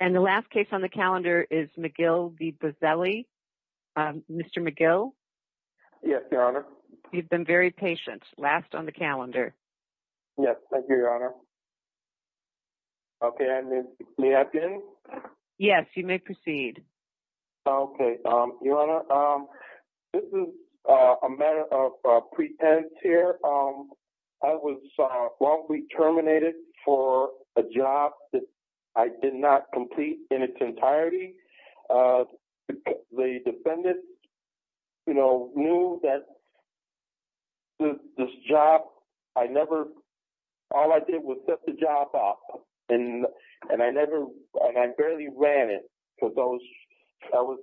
And the last case on the calendar is McGill v. Buzzelli. Mr. McGill? Yes, Your Honor. You've been very patient. Last on the calendar. Yes, thank you, Your Honor. Okay, may I begin? Yes, you may proceed. Okay, Your Honor, this is a matter of pretense here. I was wrongfully terminated for a job that I did not complete in its entirety. The defendant, you know, knew that this job, I never, all I did was set the job off and I never, and I barely ran it because I was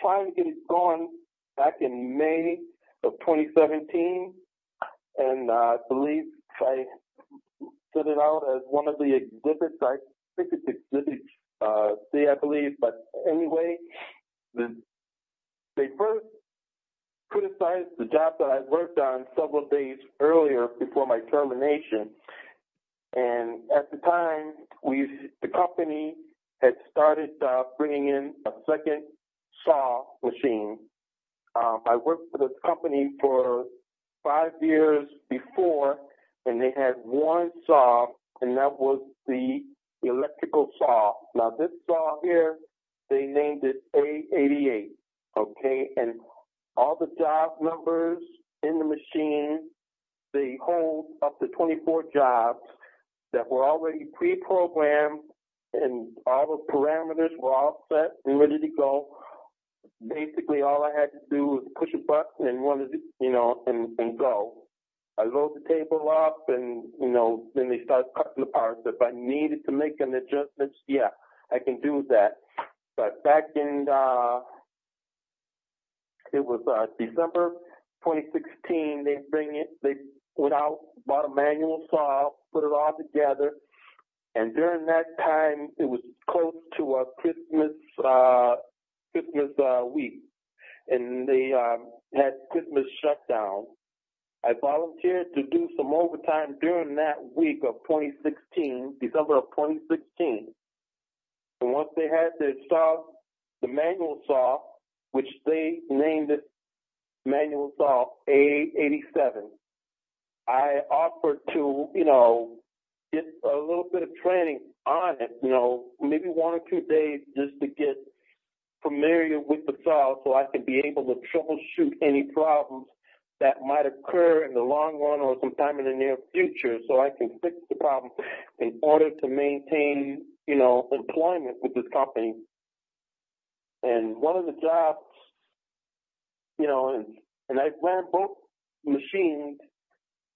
trying to get it going back in May of 2017 and I believe I set it out as one of the exhibits, I think it's exhibit C, I believe, but anyway, they first criticized the job that I worked on several days earlier before my termination and at the time, the company had started bringing in a second saw machine. I worked for this company for five years before and they had one saw and that was the electrical saw. Now, this saw here, they named it A88, okay, and all the job numbers in the machine, they hold up to 24 jobs that were already pre-programmed and all the parameters were all set and ready to go. Basically, all I had to do was push a button and go. I load the table up and, you know, then they start cutting the parts. If I needed to make an adjustment, yeah, I can do that, but back in, it was December 2016, they bring it, they went out, bought a manual saw, put it all together and during that time, it was close to Christmas week and they had Christmas shutdown. I volunteered to do some overtime during that week of 2016, December of 2016, and once they had their saws, the manual saw, which they named it manual saw A87, I offered to, you know, get a little bit of training on it, you know, maybe one or two days just to get familiar with the saw so I could be able to troubleshoot any problems that might occur in the long run or sometime in the near future so I can fix the problem in order to maintain, you know, employment with this company and one of the jobs, you know, and I ran both machines,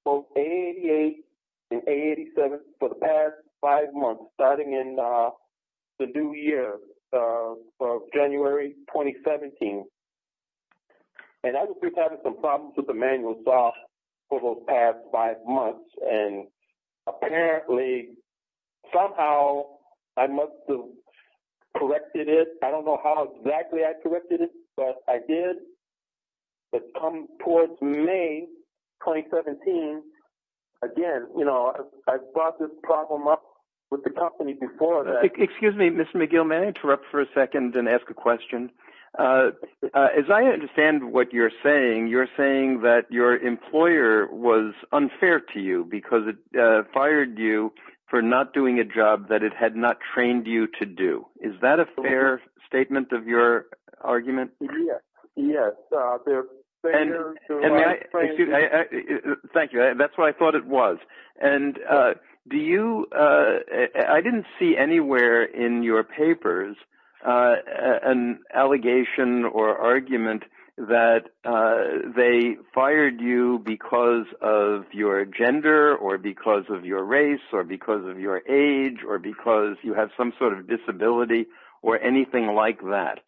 both A88 and A87 for the past five months, starting in the new year of January 2017 and I was just having some problems with the manual saw for those past five months and apparently, somehow, I must have corrected it. I don't know how exactly I corrected it, but I did, but come towards May 2017, again, you know, I brought this problem up with the company before that. Excuse me, Mr. McGill, may I interrupt for a second and ask a question? As I understand what you're saying, you're saying that your employer was unfair to because it fired you for not doing a job that it had not trained you to do. Is that a fair statement of your argument? Yes. Thank you. That's what I thought it was and do you, I didn't see anywhere in your papers an allegation or argument that they fired you because of your gender or because of your race or because of your age or because you have some sort of disability or anything like that.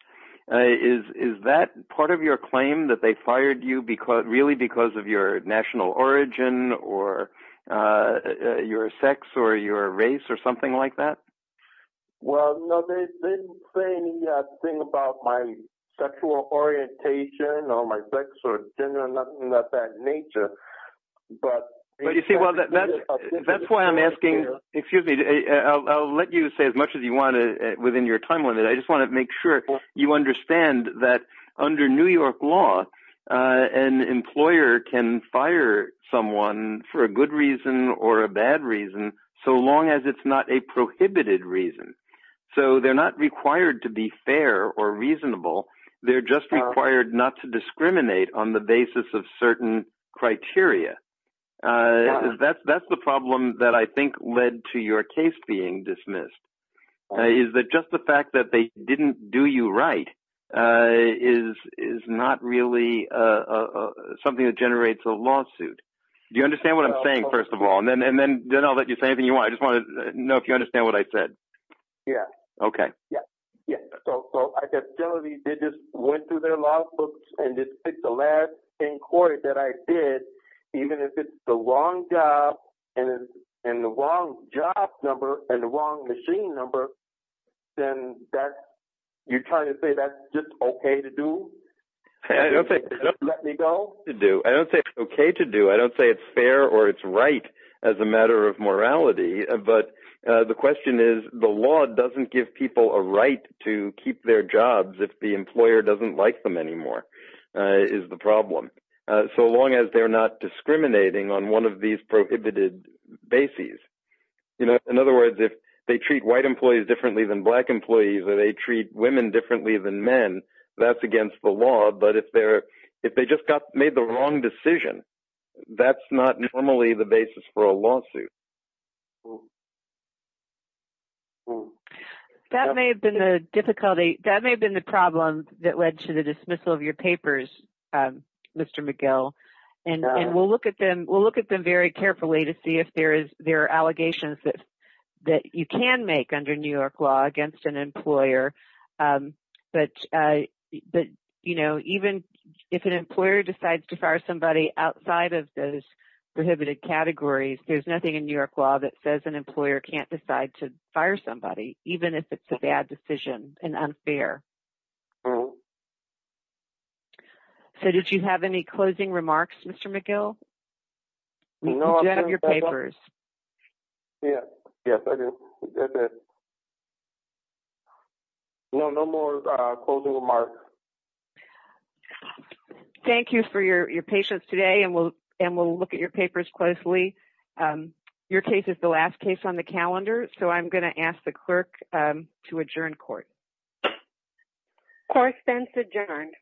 Is that part of your claim that they fired you because, really, because of your national origin or your sex or your race or something like that? Well, no, they didn't say anything about my sexual orientation or my sex or gender or anything. Well, that's why I'm asking, excuse me, I'll let you say as much as you want within your time limit. I just want to make sure you understand that under New York law, an employer can fire someone for a good reason or a bad reason so long as it's not a prohibited reason. So they're not required to be fair or reasonable. They're just required not to be. That's the problem that I think led to your case being dismissed, is that just the fact that they didn't do you right is not really something that generates a lawsuit. Do you understand what I'm saying, first of all? And then I'll let you say anything you want. I just want to know if you understand what I said. Yeah. Okay. Yeah. Yeah. So I said, generally, they just went through their lawsuits and just picked the last inquiry that I did, even if it's the wrong job and the wrong job number and the wrong machine number, then you're trying to say that's just okay to do? Let me go? I don't say it's okay to do. I don't say it's fair or it's right as a matter of morality. But the question is, the law doesn't give people a right to keep their jobs if the employer doesn't like them anymore, is the discriminating on one of these prohibited bases. In other words, if they treat white employees differently than black employees, or they treat women differently than men, that's against the law. But if they just made the wrong decision, that's not normally the basis for a lawsuit. That may have been the difficulty. That may have been the problem that led to the dismissal of your papers, Mr. McGill. And we'll look at them very carefully to see if there are allegations that you can make under New York law against an employer. But even if an employer decides to fire somebody outside of those prohibited categories, there's nothing in New York law that says an employer can't decide to fire somebody, even if it's a bad decision and unfair. So, did you have any closing remarks, Mr. McGill? No, I'm done. You have your papers. Yes, I did. No, no more closing remarks. Thank you for your patience today. And we'll look at your papers closely. Your case is the last case on the calendar. So, I'm going to ask the clerk to adjourn court. Okay. Correspondence adjourned.